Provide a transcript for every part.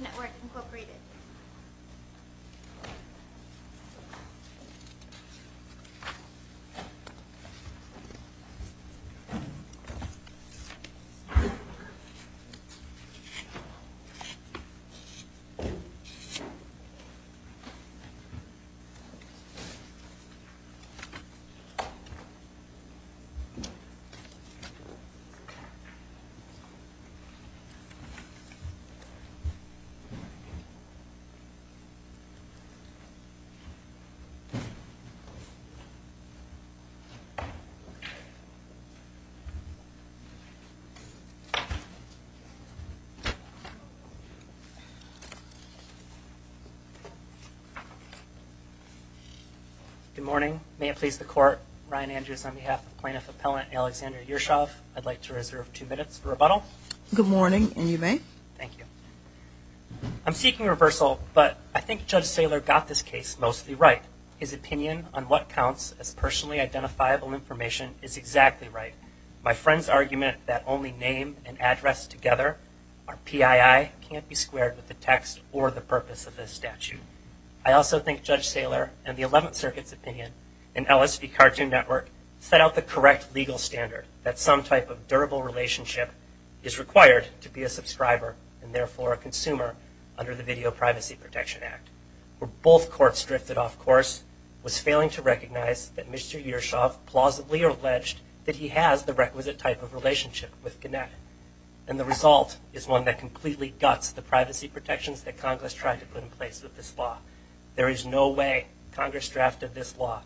Network, Incorporated. Good morning. May it please the Court, Ryan Andrews on behalf of Plaintiff Appellant Alexander Yershov, I'd like to reserve two minutes for rebuttal. Good morning, and you may. Thank you. I'm seeking reversal, but I think Judge Saylor got this case mostly right. His opinion on what counts as personally identifiable information is exactly right. My friend's argument that only name and address together are PII can't be squared with the text or the purpose of this statute. I also think Judge Saylor and the 11th Circuit's opinion in LSV Cartoon Network set out the correct legal standard that some type of durable relationship is required to be a subscriber and therefore a consumer under the Video Privacy Protection Act. Where both courts drifted off course was failing to recognize that Mr. Yershov plausibly alleged that he has the requisite type of relationship with Gannett. And the result is one that completely guts the privacy protections that Congress tried to put in this law. There is no way Congress drafted this law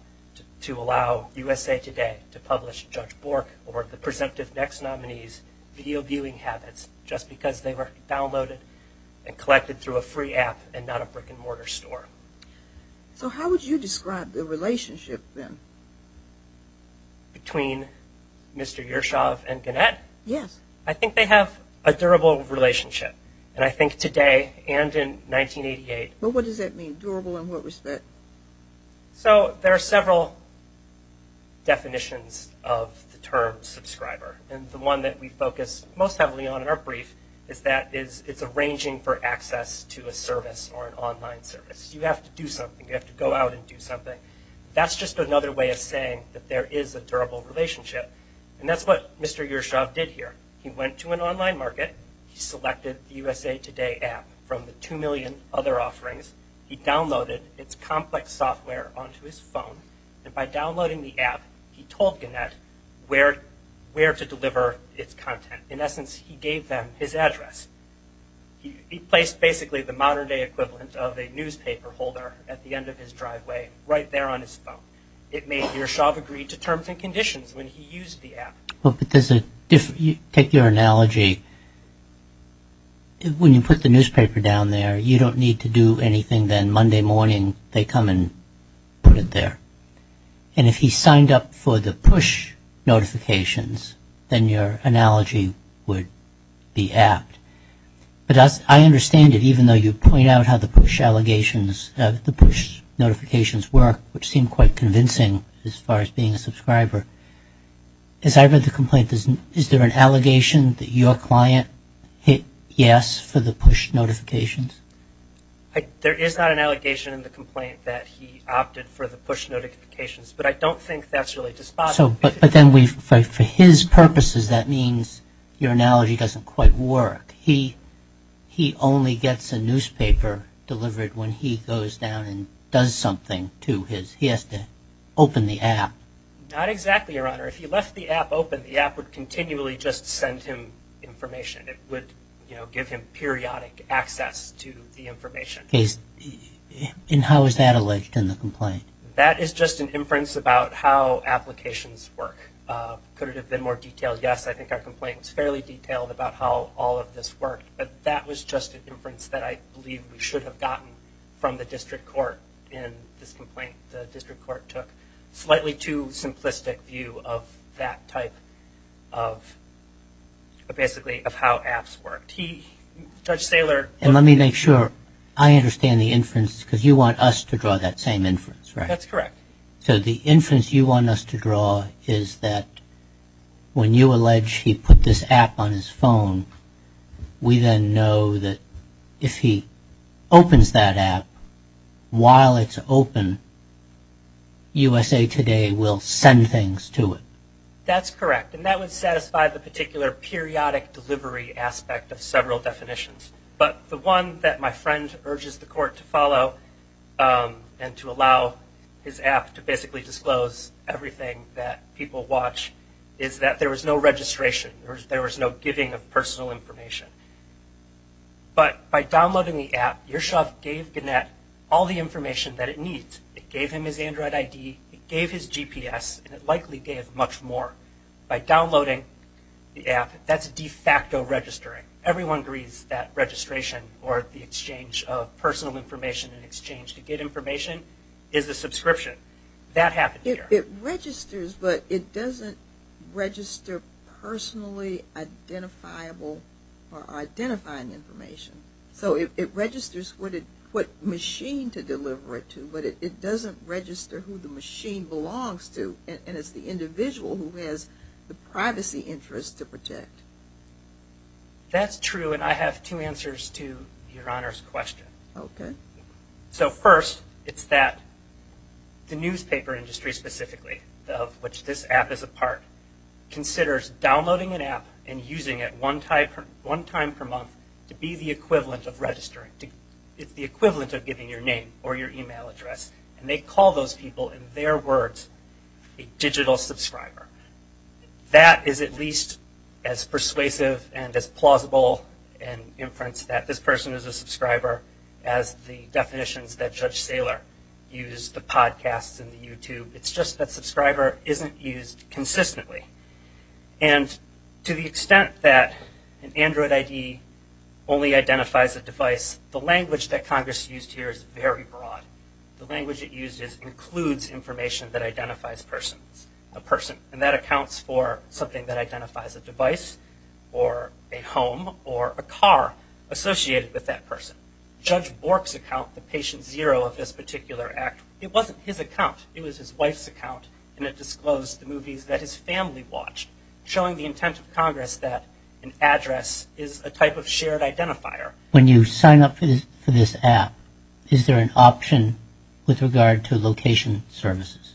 to allow USA Today to publish Judge Bork or the presumptive next nominee's video viewing habits just because they were downloaded and collected through a free app and not a brick and mortar store. So how would you describe the relationship then? Between Mr. Yershov and Gannett? Yes. I think they have a durable relationship. And I think today and in 1988. What does that mean? Durable in what respect? So there are several definitions of the term subscriber. And the one that we focus most heavily on in our brief is that it's arranging for access to a service or an online service. You have to do something. You have to go out and do something. That's just another way of saying that there is a durable relationship. And that's what Mr. Yershov did here. He went to an online market. He selected the USA Today app from the two million other offerings. He downloaded its complex software onto his phone. And by downloading the app, he told Gannett where to deliver its content. In essence, he gave them his address. He placed basically the modern day equivalent of a newspaper holder at the end of his driveway right there on his phone. It made Yershov agree to terms and conditions when he used the app. Well, take your analogy. When you put the newspaper down there, you don't need to do anything then. Monday morning, they come and put it there. And if he signed up for the push notifications, then your analogy would be apt. But I understand it, even though you point out how the push allegations, the push notifications work, which seemed quite convincing as far as being a subscriber. As I read the complaint, is there an allegation that your client hit yes for the push notifications? There is not an allegation in the complaint that he opted for the push notifications. But I don't think that's really despotic. But then for his purposes, that means your analogy doesn't quite work. He only gets a newspaper delivered when he goes down and does something to his. He has to open the app. Not exactly, Your Honor. If he left the app open, the app would continually just send him information. It would give him periodic access to the information. And how is that alleged in the complaint? That is just an inference about how applications work. Could it have been more detailed? Yes, I think our complaint was fairly detailed about how all of this worked. But that was just an inference that I believe we should have gotten from the district court in this complaint the district court took. Slightly too simplistic view of that type of basically of how apps worked. He, Judge Saylor. And let me make sure, I understand the inference because you want us to draw that same inference, right? That's correct. So the inference you want us to draw is that when you allege he put this app on his phone, we then know that if he opens that app, while it's open, USA Today will send things to it. That's correct. And that would satisfy the particular periodic delivery aspect of several definitions. But the one that my friend urges the court to follow and to allow his app to basically disclose everything that people watch is that there was no registration. There was no giving of personal information. But by downloading the app, Yershov gave Gannett all the information that it needs. It gave him his Android ID, it gave his GPS, and it likely gave much more. By downloading the information in exchange to get information is a subscription. That happened here. It registers, but it doesn't register personally identifiable or identifying information. So it registers what it, what machine to deliver it to, but it doesn't register who the machine belongs to, and it's the individual who has the privacy interest to protect. That's true, and I have two answers to Your Honor's question. Okay. So first, it's that the newspaper industry specifically, of which this app is a part, considers downloading an app and using it one time per month to be the equivalent of registering. It's the equivalent of giving your name or your email address. And they call those people, in their words, a digital subscriber. That is at least as persuasive and as plausible an inference that this person is a subscriber as the definitions that Judge Saylor used, the podcasts and the YouTube. It's just that subscriber isn't used consistently. And to the extent that an Android ID only identifies a device, the language that Congress used here is very broad. The language it uses includes information that identifies persons, a person, and that accounts for something that identifies a device or a home or a car associated with that person. Judge Bork's account, the patient zero of this particular act, it wasn't his account. It was his wife's account, and it disclosed the movies that his family watched, showing the intent of Congress that an address is a type of shared identifier. When you sign up for this app, is there an option with regard to location services?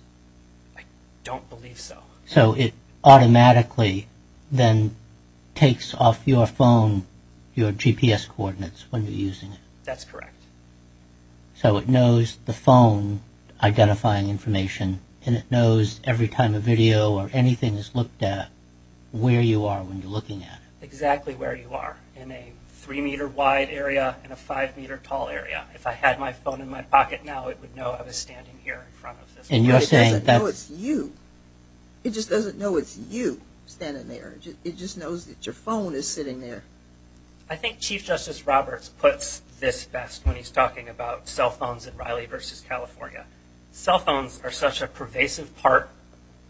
I don't believe so. So it automatically then takes off your phone, your GPS coordinates when you're using it? That's correct. So it knows the phone identifying information, and it knows every time a video or anything is looked at where you are when you're looking at it? Exactly where you are, in a three meter wide area and a five meter tall area. If I had my phone in my pocket now, it would know I was standing here in front of this. It doesn't know it's you. It just doesn't know it's you standing there. It just knows that your phone is sitting there. I think Chief Justice Roberts puts this best when he's talking about cell phones in Riley v. California. Cell phones are such a pervasive part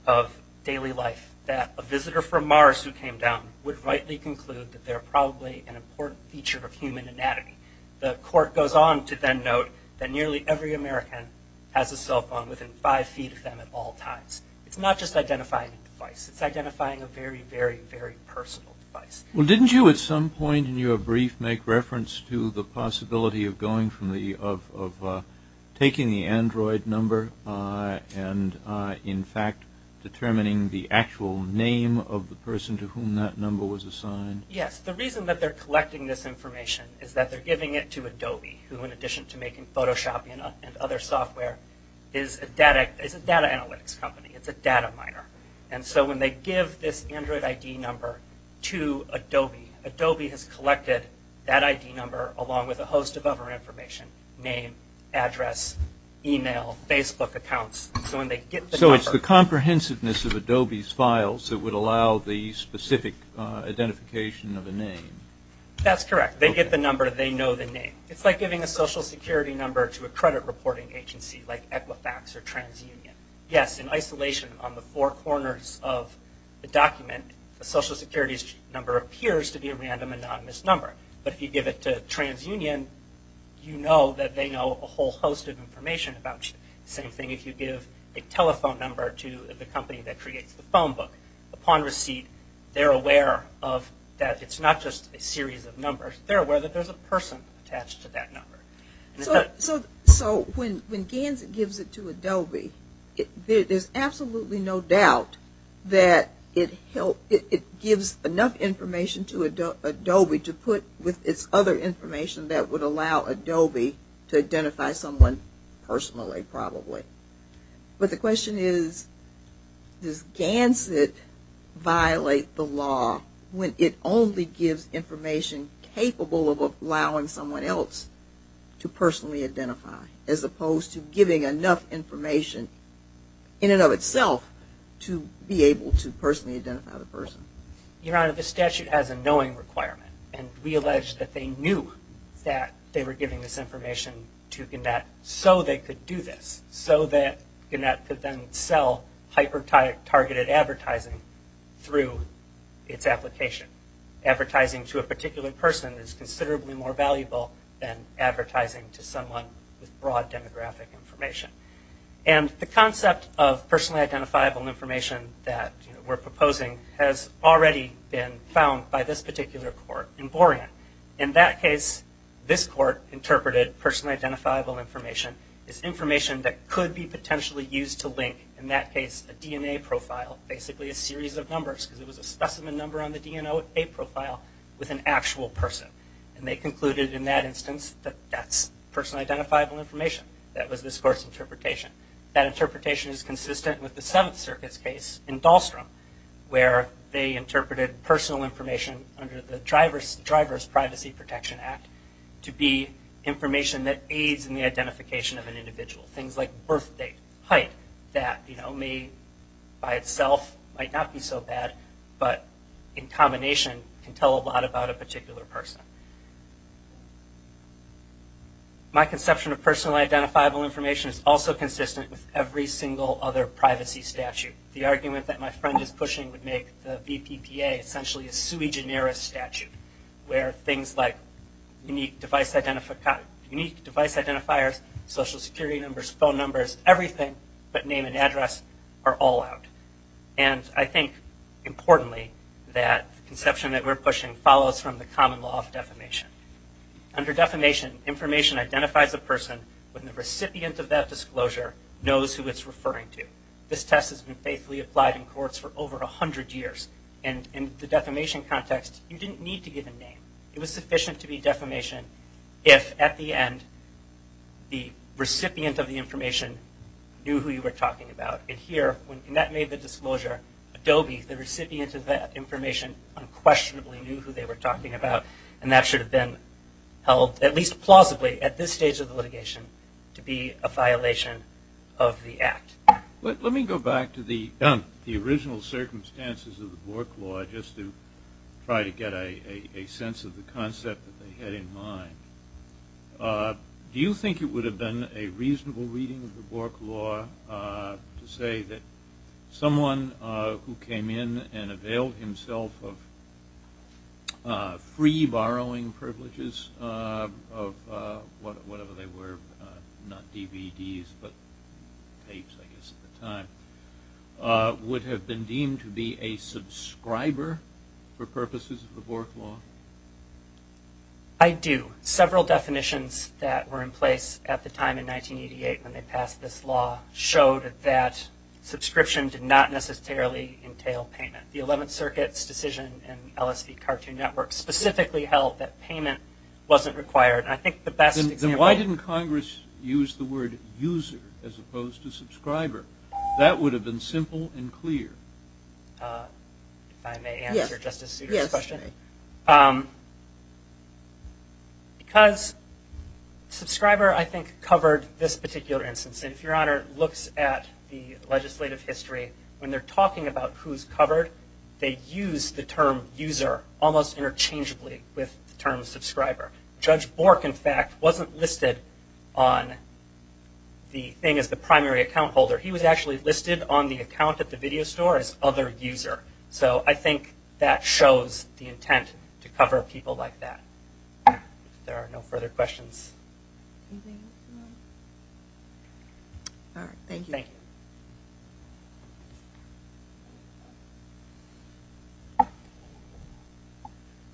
of daily life that a visitor from Mars who came down would rightly conclude that they're probably an important feature of human anatomy. The court goes on to then note that nearly every American has a cell phone within five feet of them at all times. It's not just identifying a device. It's identifying a very, very, very personal device. Well, didn't you at some point in your brief make reference to the possibility of going from the, of taking the Android number and in fact determining the actual name of the device? Well, the reason that they're collecting this information is that they're giving it to Adobe, who in addition to making Photoshop and other software, is a data analytics company. It's a data miner. When they give this Android ID number to Adobe, Adobe has collected that ID number along with a host of other information, name, address, email, Facebook accounts. When they get the number- It's the comprehensiveness of Adobe's files that would allow the specific identification of a name. That's correct. They get the number. They know the name. It's like giving a social security number to a credit reporting agency like Equifax or TransUnion. Yes, in isolation on the four corners of the document, a social security number appears to be a random anonymous number. But if you give it to TransUnion, you know that they know a whole host of information about you. Same thing if you give a telephone number to the company that creates the phone book. Upon receipt, they're aware that it's not just a series of numbers. They're aware that there's a person attached to that number. So when GANS gives it to Adobe, there's absolutely no doubt that it gives enough information to Adobe to put with its other information that would allow Adobe to identify someone personally probably. But the question is, does GANS it violate the law when it only gives information capable of allowing someone else to personally identify, as opposed to giving enough information in and of itself to be able to personally identify the person? Your Honor, the statute has a knowing requirement. And we allege that they knew that they were giving this information to GANET so they could do this, so that GANET could then sell hyper-targeted advertising through its application. Advertising to a particular person is considerably more valuable than advertising to someone with broad demographic information. And the concept of personally identifiable information that we're proposing has already been found by this particular court in Borean. In that case, this court interpreted personally identifiable information as information that could be potentially used to link, in that case, a DNA profile, basically a series of numbers, because it was a specimen number on the DNA profile with an actual person. And they concluded in that instance that that's personally identifiable information. That was this court's interpretation. That interpretation is consistent with the Seventh Circuit's case in Dahlstrom, where they interpreted personal information under the Driver's Privacy Protection Act to be information that aids in the identification of an individual. Things like birth date, height, that may by itself might not be so bad, but in combination can tell a lot about a particular person. My conception of personally identifiable information is also consistent with every single other privacy statute. The argument that my friend is pushing would make the BPPA essentially a sui generis statute, where things like unique device identifiers, social security numbers, phone numbers, everything but name and address are all out. And I think, importantly, that conception that we're pushing follows from the common law of defamation. Under defamation, information identifies a person when the recipient of that disclosure knows who it's referring to. This test has been faithfully applied in courts for over 100 years. And in the defamation context, you didn't need to give a name. It was sufficient to be defamation if, at the end, the recipient of the information knew who you were talking about. And here, when the recipient of that information unquestionably knew who they were talking about, and that should have been held, at least plausibly at this stage of the litigation, to be a violation of the act. Let me go back to the original circumstances of the Bork law, just to try to get a sense of the concept that they had in mind. Do you think it would have been a reasonable reading of the Bork law to say that someone who came in and availed himself of free borrowing privileges of whatever they were, not DVDs, but tapes, I guess, at the time, would have been deemed to be a subscriber for purposes of the Bork law? I do. Several definitions that were in place at the time, in 1988, when they passed this law, showed that subscription did not necessarily entail payment. The 11th Circuit's decision in LSV Cartoon Network specifically held that payment wasn't required. And I think the best example... Then why didn't Congress use the word user as opposed to subscriber? That would have been simple and clear. If I may answer Justice Souter's question? Yes. Because subscriber, I think, covered this particular instance. And if Your Honor looks at the legislative history, when they're talking about who's covered, they use the term user almost interchangeably with the term subscriber. Judge Bork, in fact, wasn't listed on the thing as the primary account holder. He was actually listed on the account at the video store as other user. So I think that shows the intent to cover people like that. There are no further questions. All right. Thank you. Thank you.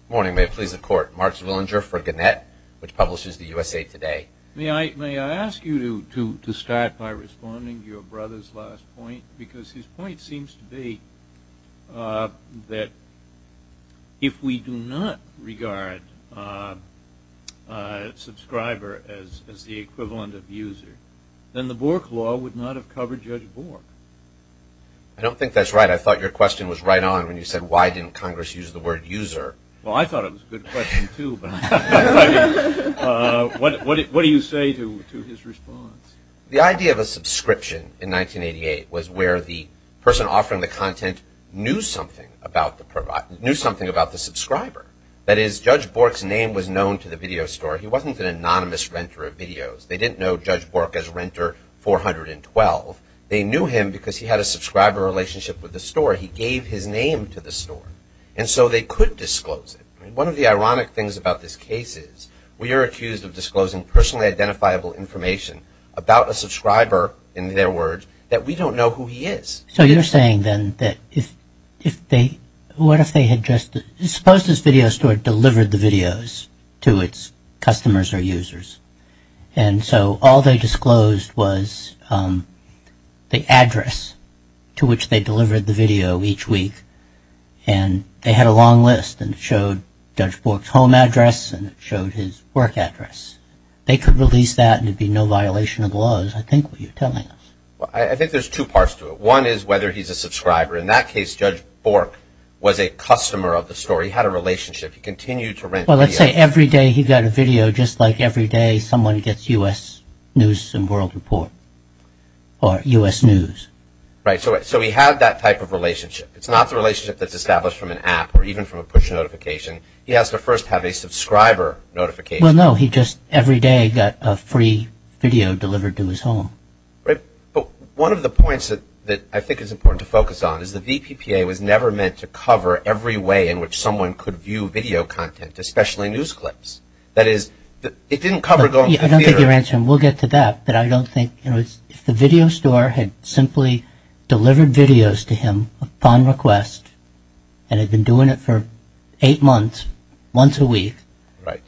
Morning. May it please the Court. Mark Zwillinger for Gannett, which publishes the USA Today. May I ask you to start by responding to your brother's last point? Because his point seems to be that if we do not regard subscriber as the equivalent of user, then the Bork law would not have covered Judge Bork. I don't think that's right. I thought your question was right on when you said, why didn't Congress use the word user? Well, I thought it was a good question, too. What do you say to his response? The idea of a subscription in 1988 was where the person offering the content knew something about the subscriber. That is, Judge Bork's name was known to the video store. He wasn't an anonymous renter of videos. They didn't know Judge Bork as renter 412. They knew him because he had a subscriber relationship with the store. He gave his name to the store. And so they could disclose it. One of the ironic things about this case is we are accused of disclosing personally identifiable information about a subscriber, in their words, that we don't know who he is. So you're saying then that if they, what if they had just, suppose this video store delivered the videos to its customers or users. And so all they disclosed was the address to which they delivered the video each week. And they had a long list and it showed Judge Bork's home address and it showed his work address. They could release that and it would be no violation of the laws, I think what you're telling us. I think there's two parts to it. One is whether he's a subscriber. In that case, Judge Bork was a customer of the store. He had a relationship. He continued to rent videos. Well, let's say every day he got a video, just like every day someone gets U.S. News and World Report or U.S. News. Right. So he had that type of relationship. It's not the relationship that's established from an app or even from a push notification. He has to first have a subscriber notification. Well, no. He just every day got a free video delivered to his home. Right. But one of the points that I think is important to focus on is the VPPA was never meant to cover every way in which someone could view video content, especially news I don't think you're answering. We'll get to that. But I don't think if the video store had simply delivered videos to him upon request and had been doing it for eight months, once a week Right.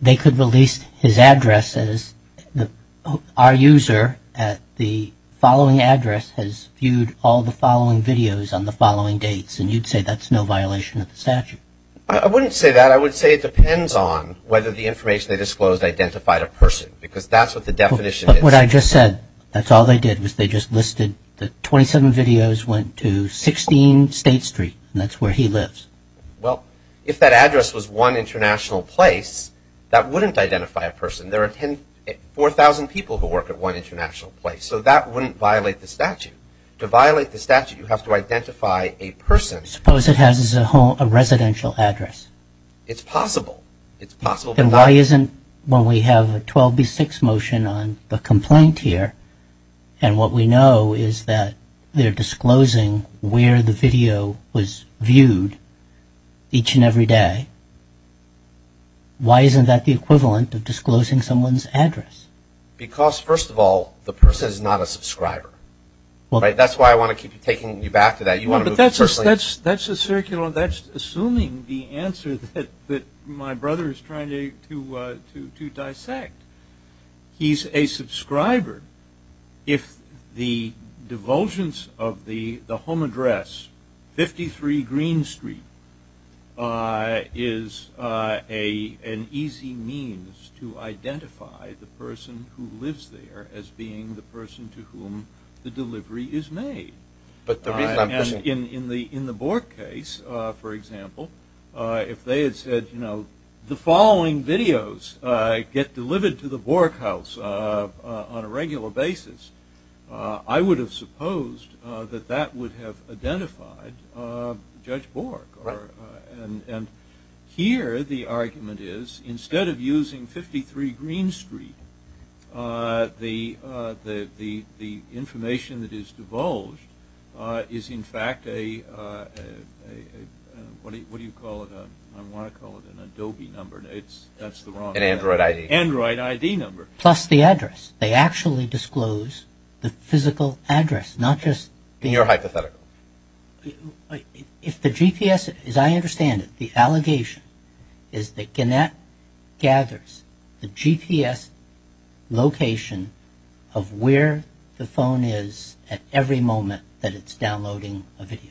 They could release his address as our user at the following address has viewed all the following videos on the following dates and you'd say that's no violation of the statute. I wouldn't say that. I would say it depends on whether the information they disclosed identified a person because that's what the definition is. But what I just said, that's all they did was they just listed that 27 videos went to 16 State Street and that's where he lives. Well, if that address was one international place, that wouldn't identify a person. There are 4,000 people who work at one international place so that wouldn't violate the statute. To violate the statute, you have to identify a person. Suppose it has a residential address. It's possible. It's possible. Then why isn't when we have a 12B6 motion on the complaint here and what we know is that they're disclosing where the video was viewed each and every day why isn't that the equivalent of disclosing someone's address? Because first of all, the person is not a subscriber. That's why I want to keep taking you back to that. That's assuming the answer that my brother is trying to dissect. He's a subscriber. If the divulgence of the home address 53 Green Street is an easy means to identify the person who lives there as being the person to whom the delivery is made. In the Bork case for example, if they had said the following videos get delivered to the Bork house on a regular basis, I would have supposed that would have identified Judge Bork. Here the argument is instead of using 53 Green Street, the information that is divulged is in fact a, what do you call it, I want to call it an Adobe number, that's the wrong. An Android ID. Plus the address. They actually disclose the physical address not just. In your hypothetical. If the GPS, as I understand it, the allegation is that Gannett gathers the GPS location of where the phone is at every moment that it's downloading a video.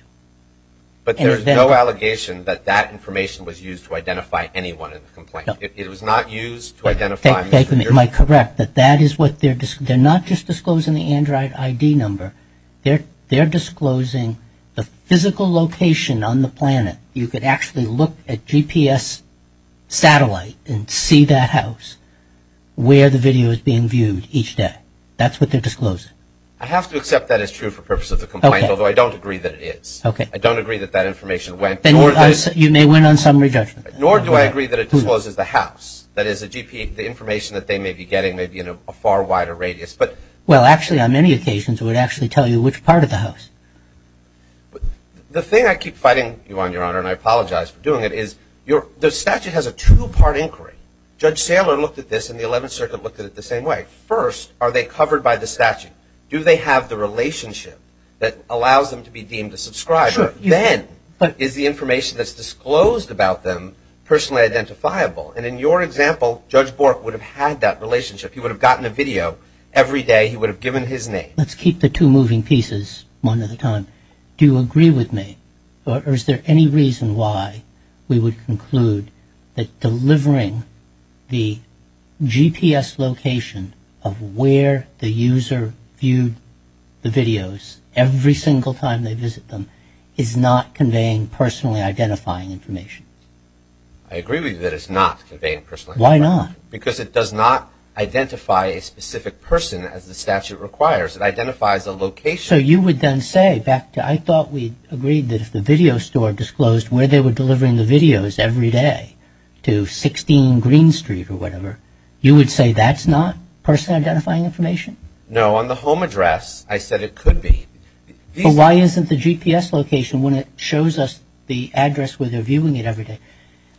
But there's no allegation that that information was used to identify anyone in the complaint. It was not used to identify. Am I correct that that is what, they're not just disclosing the Android ID number, they're disclosing the physical location on the planet. You could actually look at GPS satellite and see that house where the video is being viewed each day. That's what they're disclosing. I have to accept that as true for the purpose of the complaint, although I don't agree that it is. I don't agree that that information went. You may win on some re-judgment. Nor do I agree that it discloses the house. That is the GP, the information that they may be getting may be in a far wider radius. Well, actually on many occasions it would actually tell you which part of the house. The thing I keep fighting you on, Your Honor, and I apologize for doing it, is the statute has a two-part inquiry. Judge Saylor looked at this and the 11th Circuit looked at it the same way. First, are they covered by the statute? Do they have the relationship that allows them to be deemed a subscriber? Then, is the information that's disclosed about them personally identifiable? And in your example, Judge Bork would have had that relationship. He would have gotten a video every day. He would have given his name. Let's keep the two moving pieces one at a time. Do you agree with me? Or is there any reason why we would conclude that delivering the GPS location of where the user viewed the videos every single time they visit them is not conveying personally identifying information? I agree with you that it's not conveying personally. Why not? Because it does not identify a specific person as the statute requires. It identifies a location. So you would then say, back to, I thought we agreed that if the video store disclosed where they were delivering the videos every day to 16 Green Street or whatever, you would say that's not personally identifying information? No, on the home address, I said it could be. But why isn't the GPS location when it shows us the address where they're viewing it every day?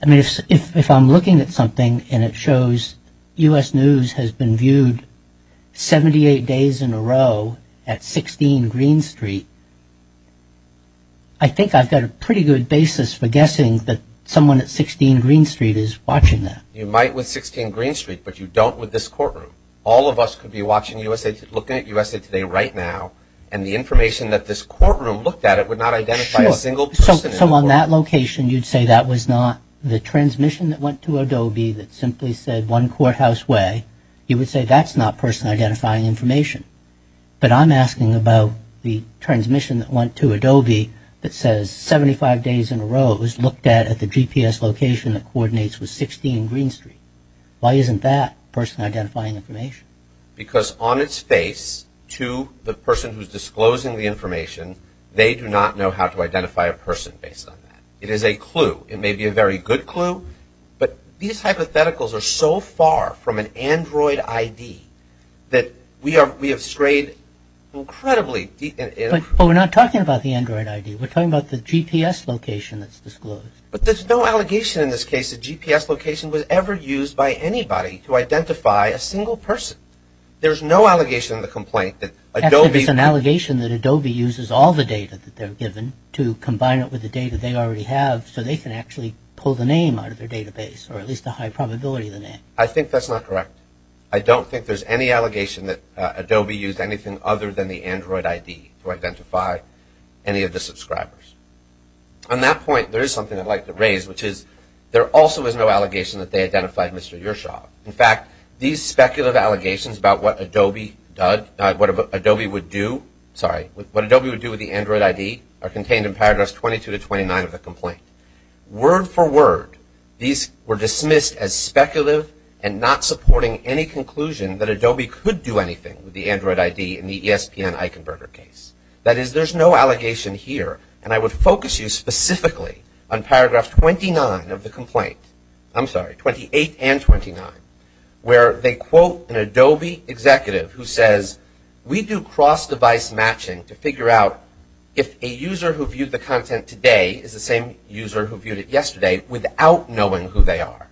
I mean, if I'm looking at something and it shows U.S. News has been viewed 78 days in a row at 16 Green Street, I think I've got a pretty good basis for guessing that someone at 16 Green Street is watching that. You might with 16 Green Street, but you don't with this courtroom. All of us could be watching USA Today, looking at USA Today right now, and the information that this courtroom looked at it would not identify a single person. So on that location, you'd say that was not the transmission that went to Adobe that simply said one courthouse way. You would say that's not personally identifying information. But I'm asking about the transmission that went to Adobe that says 75 days in a row it was looked at at the GPS location that coordinates with 16 Green Street. Why isn't that personally identifying information? Because on its face to the person who's disclosing the information, they do not know how to identify a person based on that. It is a clue. It may be a very good clue, but these hypotheticals are so far from an Android ID that we have strayed incredibly deep. But we're not talking about the Android ID. We're talking about the GPS location that's disclosed. But there's no allegation in this case that GPS location was ever used by anybody to identify a single person. There's no allegation in the complaint that Adobe... Actually, there's an allegation that Adobe uses all the data that they're given to combine it with the data they already have so they can actually pull the name out of their database, or at least a high probability of the name. I think that's not correct. I don't think there's any allegation that Adobe used anything other than the Android ID to identify any of the subscribers. On that point, there is something I'd like to raise, which is there also is no allegation that they identified Mr. Yershov. In fact, these speculative allegations about what Adobe would do with the Android ID are contained in paragraphs 22 to 29 of the complaint. Word for word, these were dismissed as speculative and not supporting any conclusion that Adobe could do anything with the Android ID in the ESPN Eichenberger case. That is, there's no allegation here. I would focus you specifically on paragraph 28 and 29 where they quote an Adobe executive who says, we do cross-device matching to figure out if a user who viewed the content today is the same user who viewed it yesterday without knowing who they are.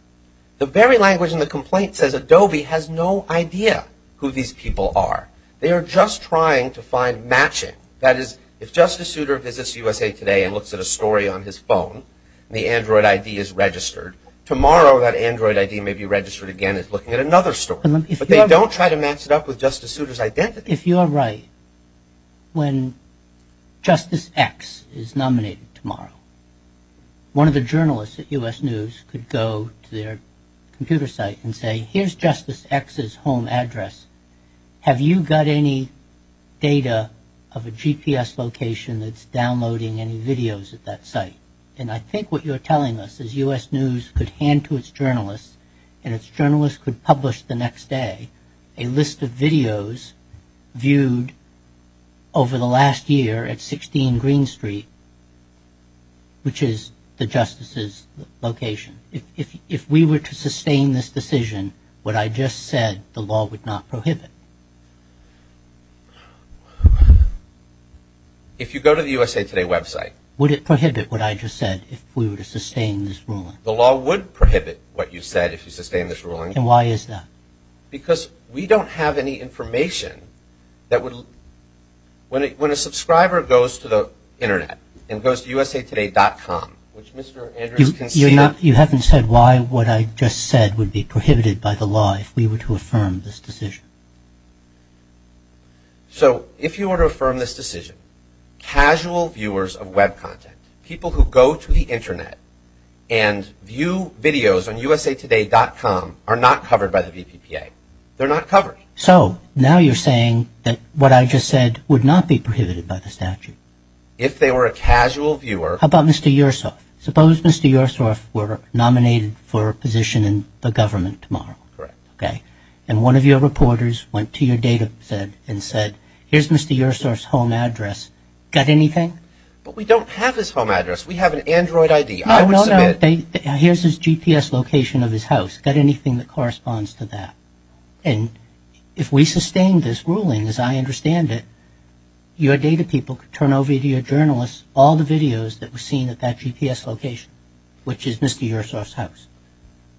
The very language in the complaint says Adobe has no idea who these people are. They are just trying to find matching. That is, if Justice Souter visits USA Today and looks at a story on his phone and the Android ID is registered, tomorrow that Android ID may be registered again as looking at another story. But they don't try to match it up with Justice Souter's identity. If you are right, when Justice X is nominated tomorrow, one of the journalists at U.S. News could go to their computer site and say, here's Justice X's home address. Have you got any data of a GPS location that's downloading any videos at that site? And I think what you're telling us is U.S. News could hand to its journalist and its journalist could publish the next day a list of videos viewed over the last year at 16 Green Street, which is the Justice's location. If we were to sustain this decision, what I just said, the law would not prohibit. If you go to the USA Today website Would it prohibit what I just said if we were to sustain this ruling? The law would prohibit what you said if you sustained this ruling. And why is that? Because we don't have any information that would When a subscriber goes to the internet and goes to usatoday.com, which Mr. Andrews conceded You haven't said why what I just said would be prohibited by the law if we were to affirm this decision. So if you were to affirm this decision, casual viewers of web content, people who go to the internet and view videos on usatoday.com are not covered by the VPPA. They're not covered. So now you're saying that what I just said would not be prohibited by the statute. If they were a casual viewer. How about Mr. Yersoff? Suppose Mr. Yersoff were nominated for a position in the government tomorrow. Correct. Okay. And one of your reporters went to your data set and said, here's Mr. Yersoff's home address. Got anything? But we don't have his home address. We have an Android ID. I would submit Here's his GPS location of his house. Got anything that corresponds to that? And if we sustain this ruling, as I understand it, your data people could turn over to your journalists all the videos that were seen at that GPS location, which is Mr. Yersoff's house.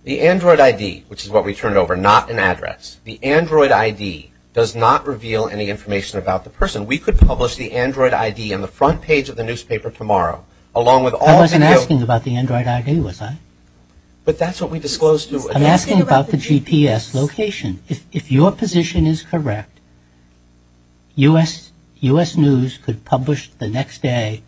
The Android ID, which is what we turned over, not an address. The Android ID does not reveal any information about the person. We could publish the Android ID on the front page of the newspaper tomorrow, along with all the videos. I wasn't asking about the Android ID, was I? But that's what we said. GPS location. If your position is correct, U.S. News could publish the next day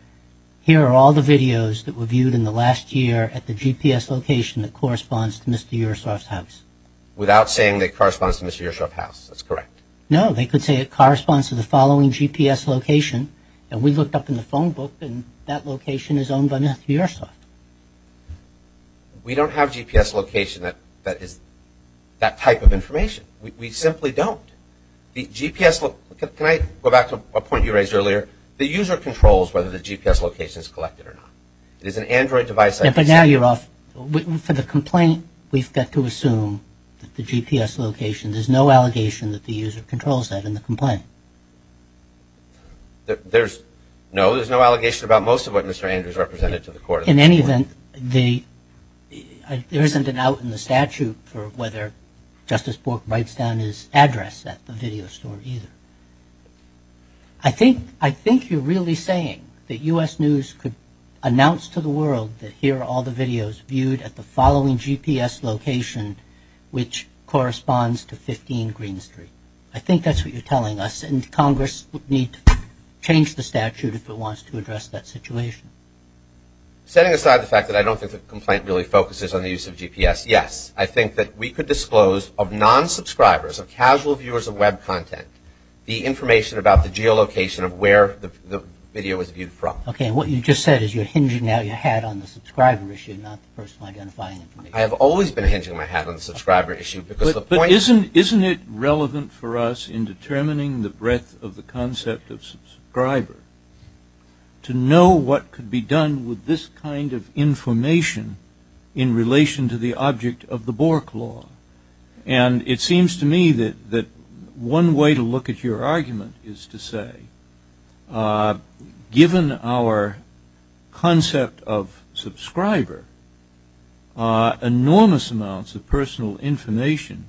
here are all the videos that were viewed in the last year at the GPS location that corresponds to Mr. Yersoff's house. Without saying that it corresponds to Mr. Yersoff's house. That's correct. No, they could say it corresponds to the following GPS location. And we looked up in the phone book and that location is owned by Mr. Yersoff. We don't have GPS location that is that type of information. We simply don't. Can I go back to a point you raised earlier? The user controls whether the GPS location is collected or not. It is an Android device But now you're off. For the complaint, we've got to assume that the GPS location, there's no allegation that the user controls that in the complaint. There's no allegation about most of what Mr. Andrews represented to the court. In any event, the there isn't an out in the statute for whether Justice Bork writes down his address at the video store either. I think you're really saying that U.S. News could announce to the world that here are all the videos viewed at the following GPS location which corresponds to 15 Green Street. I think that's what you're telling us. And Congress would need to change the statute if it wants to address that situation. Setting aside the fact that I don't think the complaint really focuses on the use of GPS, yes. I think that we could disclose of non-subscribers of casual viewers of web content, the information about the geolocation of where the video was viewed from. Okay, and what you just said is you're hinging out your hat on the subscriber issue, not the personal identifying information. I have always been hinging my hat on the subscriber issue. But isn't it relevant for us in determining the breadth of the concept of subscriber to know what could be done with this kind of information in relation to the object of the Bork Law? And it seems to me that one way to look at your argument is to say, given our concept of subscriber enormous amounts of personal information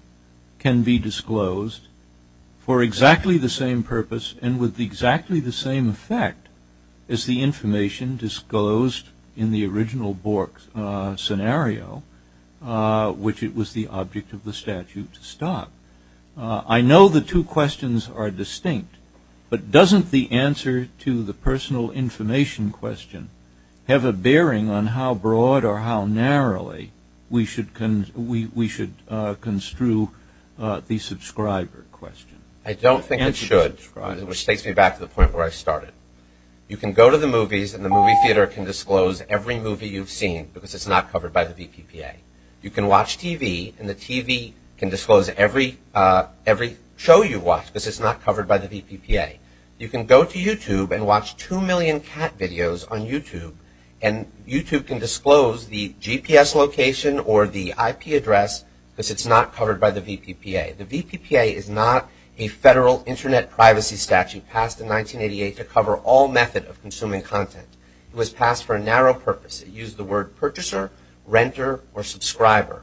can be disclosed for exactly the same purpose and with exactly the same effect as the information disclosed in the original Bork scenario which it was the object of the statute to stop. I know the two questions are distinct, but doesn't the answer to the personal information question have a bearing on how broad or how narrowly we should construe the subscriber question? I don't think it should, which takes me back to the point where I started. You can go to the movies and the movie theater can disclose every movie you've seen because it's not covered by the VPPA. You can watch TV and the TV can disclose every show you've watched because it's not covered by the VPPA. You can go to YouTube and watch two million cat videos on YouTube and YouTube can disclose the GPS location or the IP address because it's not covered by the VPPA. The VPPA is not a federal internet privacy statute passed in 1988 to cover all method of consuming content. It was passed for a narrow purpose. It used the word purchaser, renter, or subscriber.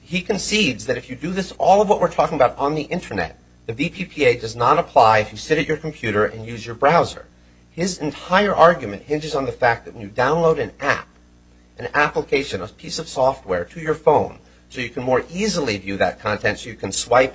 He concedes that if you do this, all of what we're talking about on the internet the VPPA does not apply if you sit at your computer and use your browser. His entire argument hinges on the fact that when you download an app an application, a piece of software to your phone so you can more type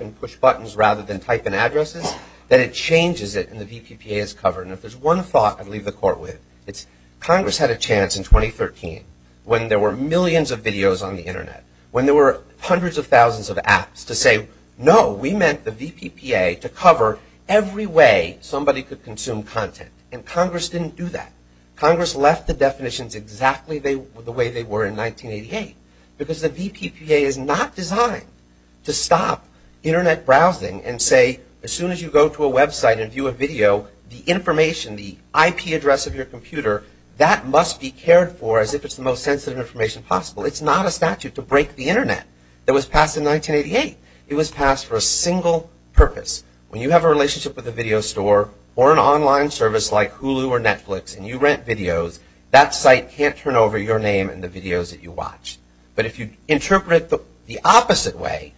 and push buttons rather than type in addresses, that it changes it and the VPPA is covered. If there's one thought I'd leave the court with, it's Congress had a chance in 2013 when there were millions of videos on the internet. When there were hundreds of thousands of apps to say, no, we meant the VPPA to cover every way somebody could consume content and Congress didn't do that. Congress left the definitions exactly the way they were in 1988 because the VPPA is not designed to stop internet browsing and say as soon as you go to a website and view a video, the information, the IP address of your computer, that must be cared for as if it's the most sensitive information possible. It's not a statute to break the internet that was passed in 1988. It was passed for a single purpose. When you have a relationship with a video store or an online service like Hulu or Netflix and you rent videos, that site can't turn over your name and the videos that you watch. But if you interpret it the opposite way,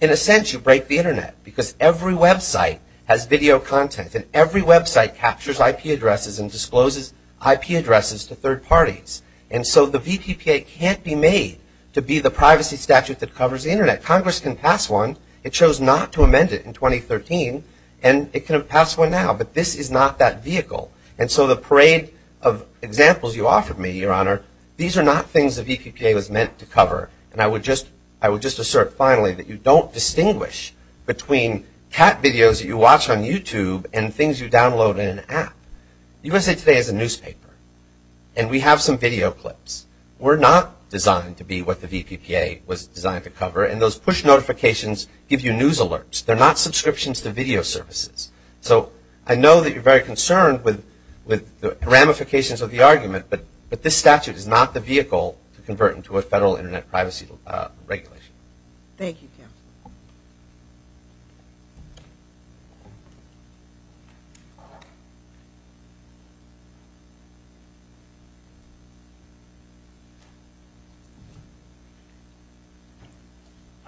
in a sense you break the internet because every website has video content and every website captures IP addresses and discloses IP addresses to third parties. And so the VPPA can't be made to be the privacy statute that covers the internet. Congress can pass one. It chose not to amend it in 2013 and it can pass one now, but this is not that things the VPPA was meant to cover. And I would just assert finally that you don't distinguish between cat videos that you watch on YouTube and things you download in an app. The USA Today is a newspaper and we have some video clips. We're not designed to be what the VPPA was designed to cover and those push notifications give you news alerts. They're not subscriptions to video services. So I know that you're very concerned with the ramifications of the argument, but this statute is not the vehicle to convert into a federal internet privacy regulation.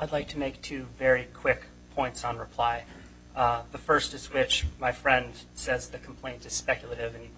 I'd like to make two very quick points on reply. The first is which my friend says the complaint is speculative and he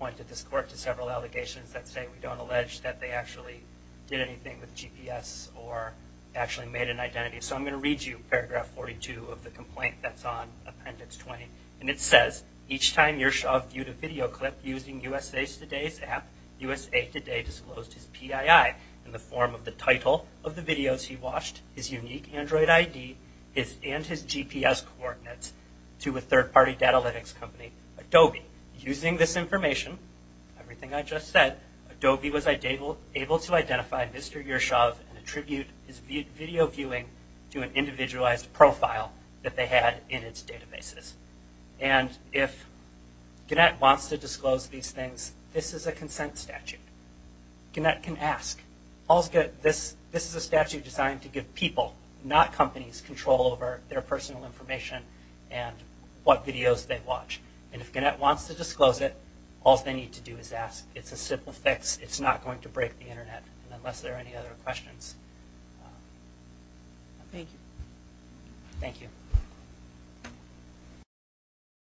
doesn't say we don't allege that they actually did anything with GPS or actually made an identity. So I'm going to read you paragraph 42 of the complaint that's on appendix 20. And it says, each time Yershov viewed a video clip using USA Today's app, USA Today disclosed his PII in the form of the title of the videos he watched, his unique Android ID, and his GPS coordinates to a third party datalytics company, Adobe. Using this information, everything I just said, Adobe was able to identify Mr. Yershov and attribute his video viewing to an individualized profile that they had in its databases. And if Gannett wants to disclose these things, this is a consent statute. Gannett can ask. This is a statute designed to give people, not companies, control over their personal information and what videos they watch. And if Gannett wants to disclose it, all they need to do is ask. It's a simple fix. It's not going to break the Internet, unless there are any other questions. Thank you.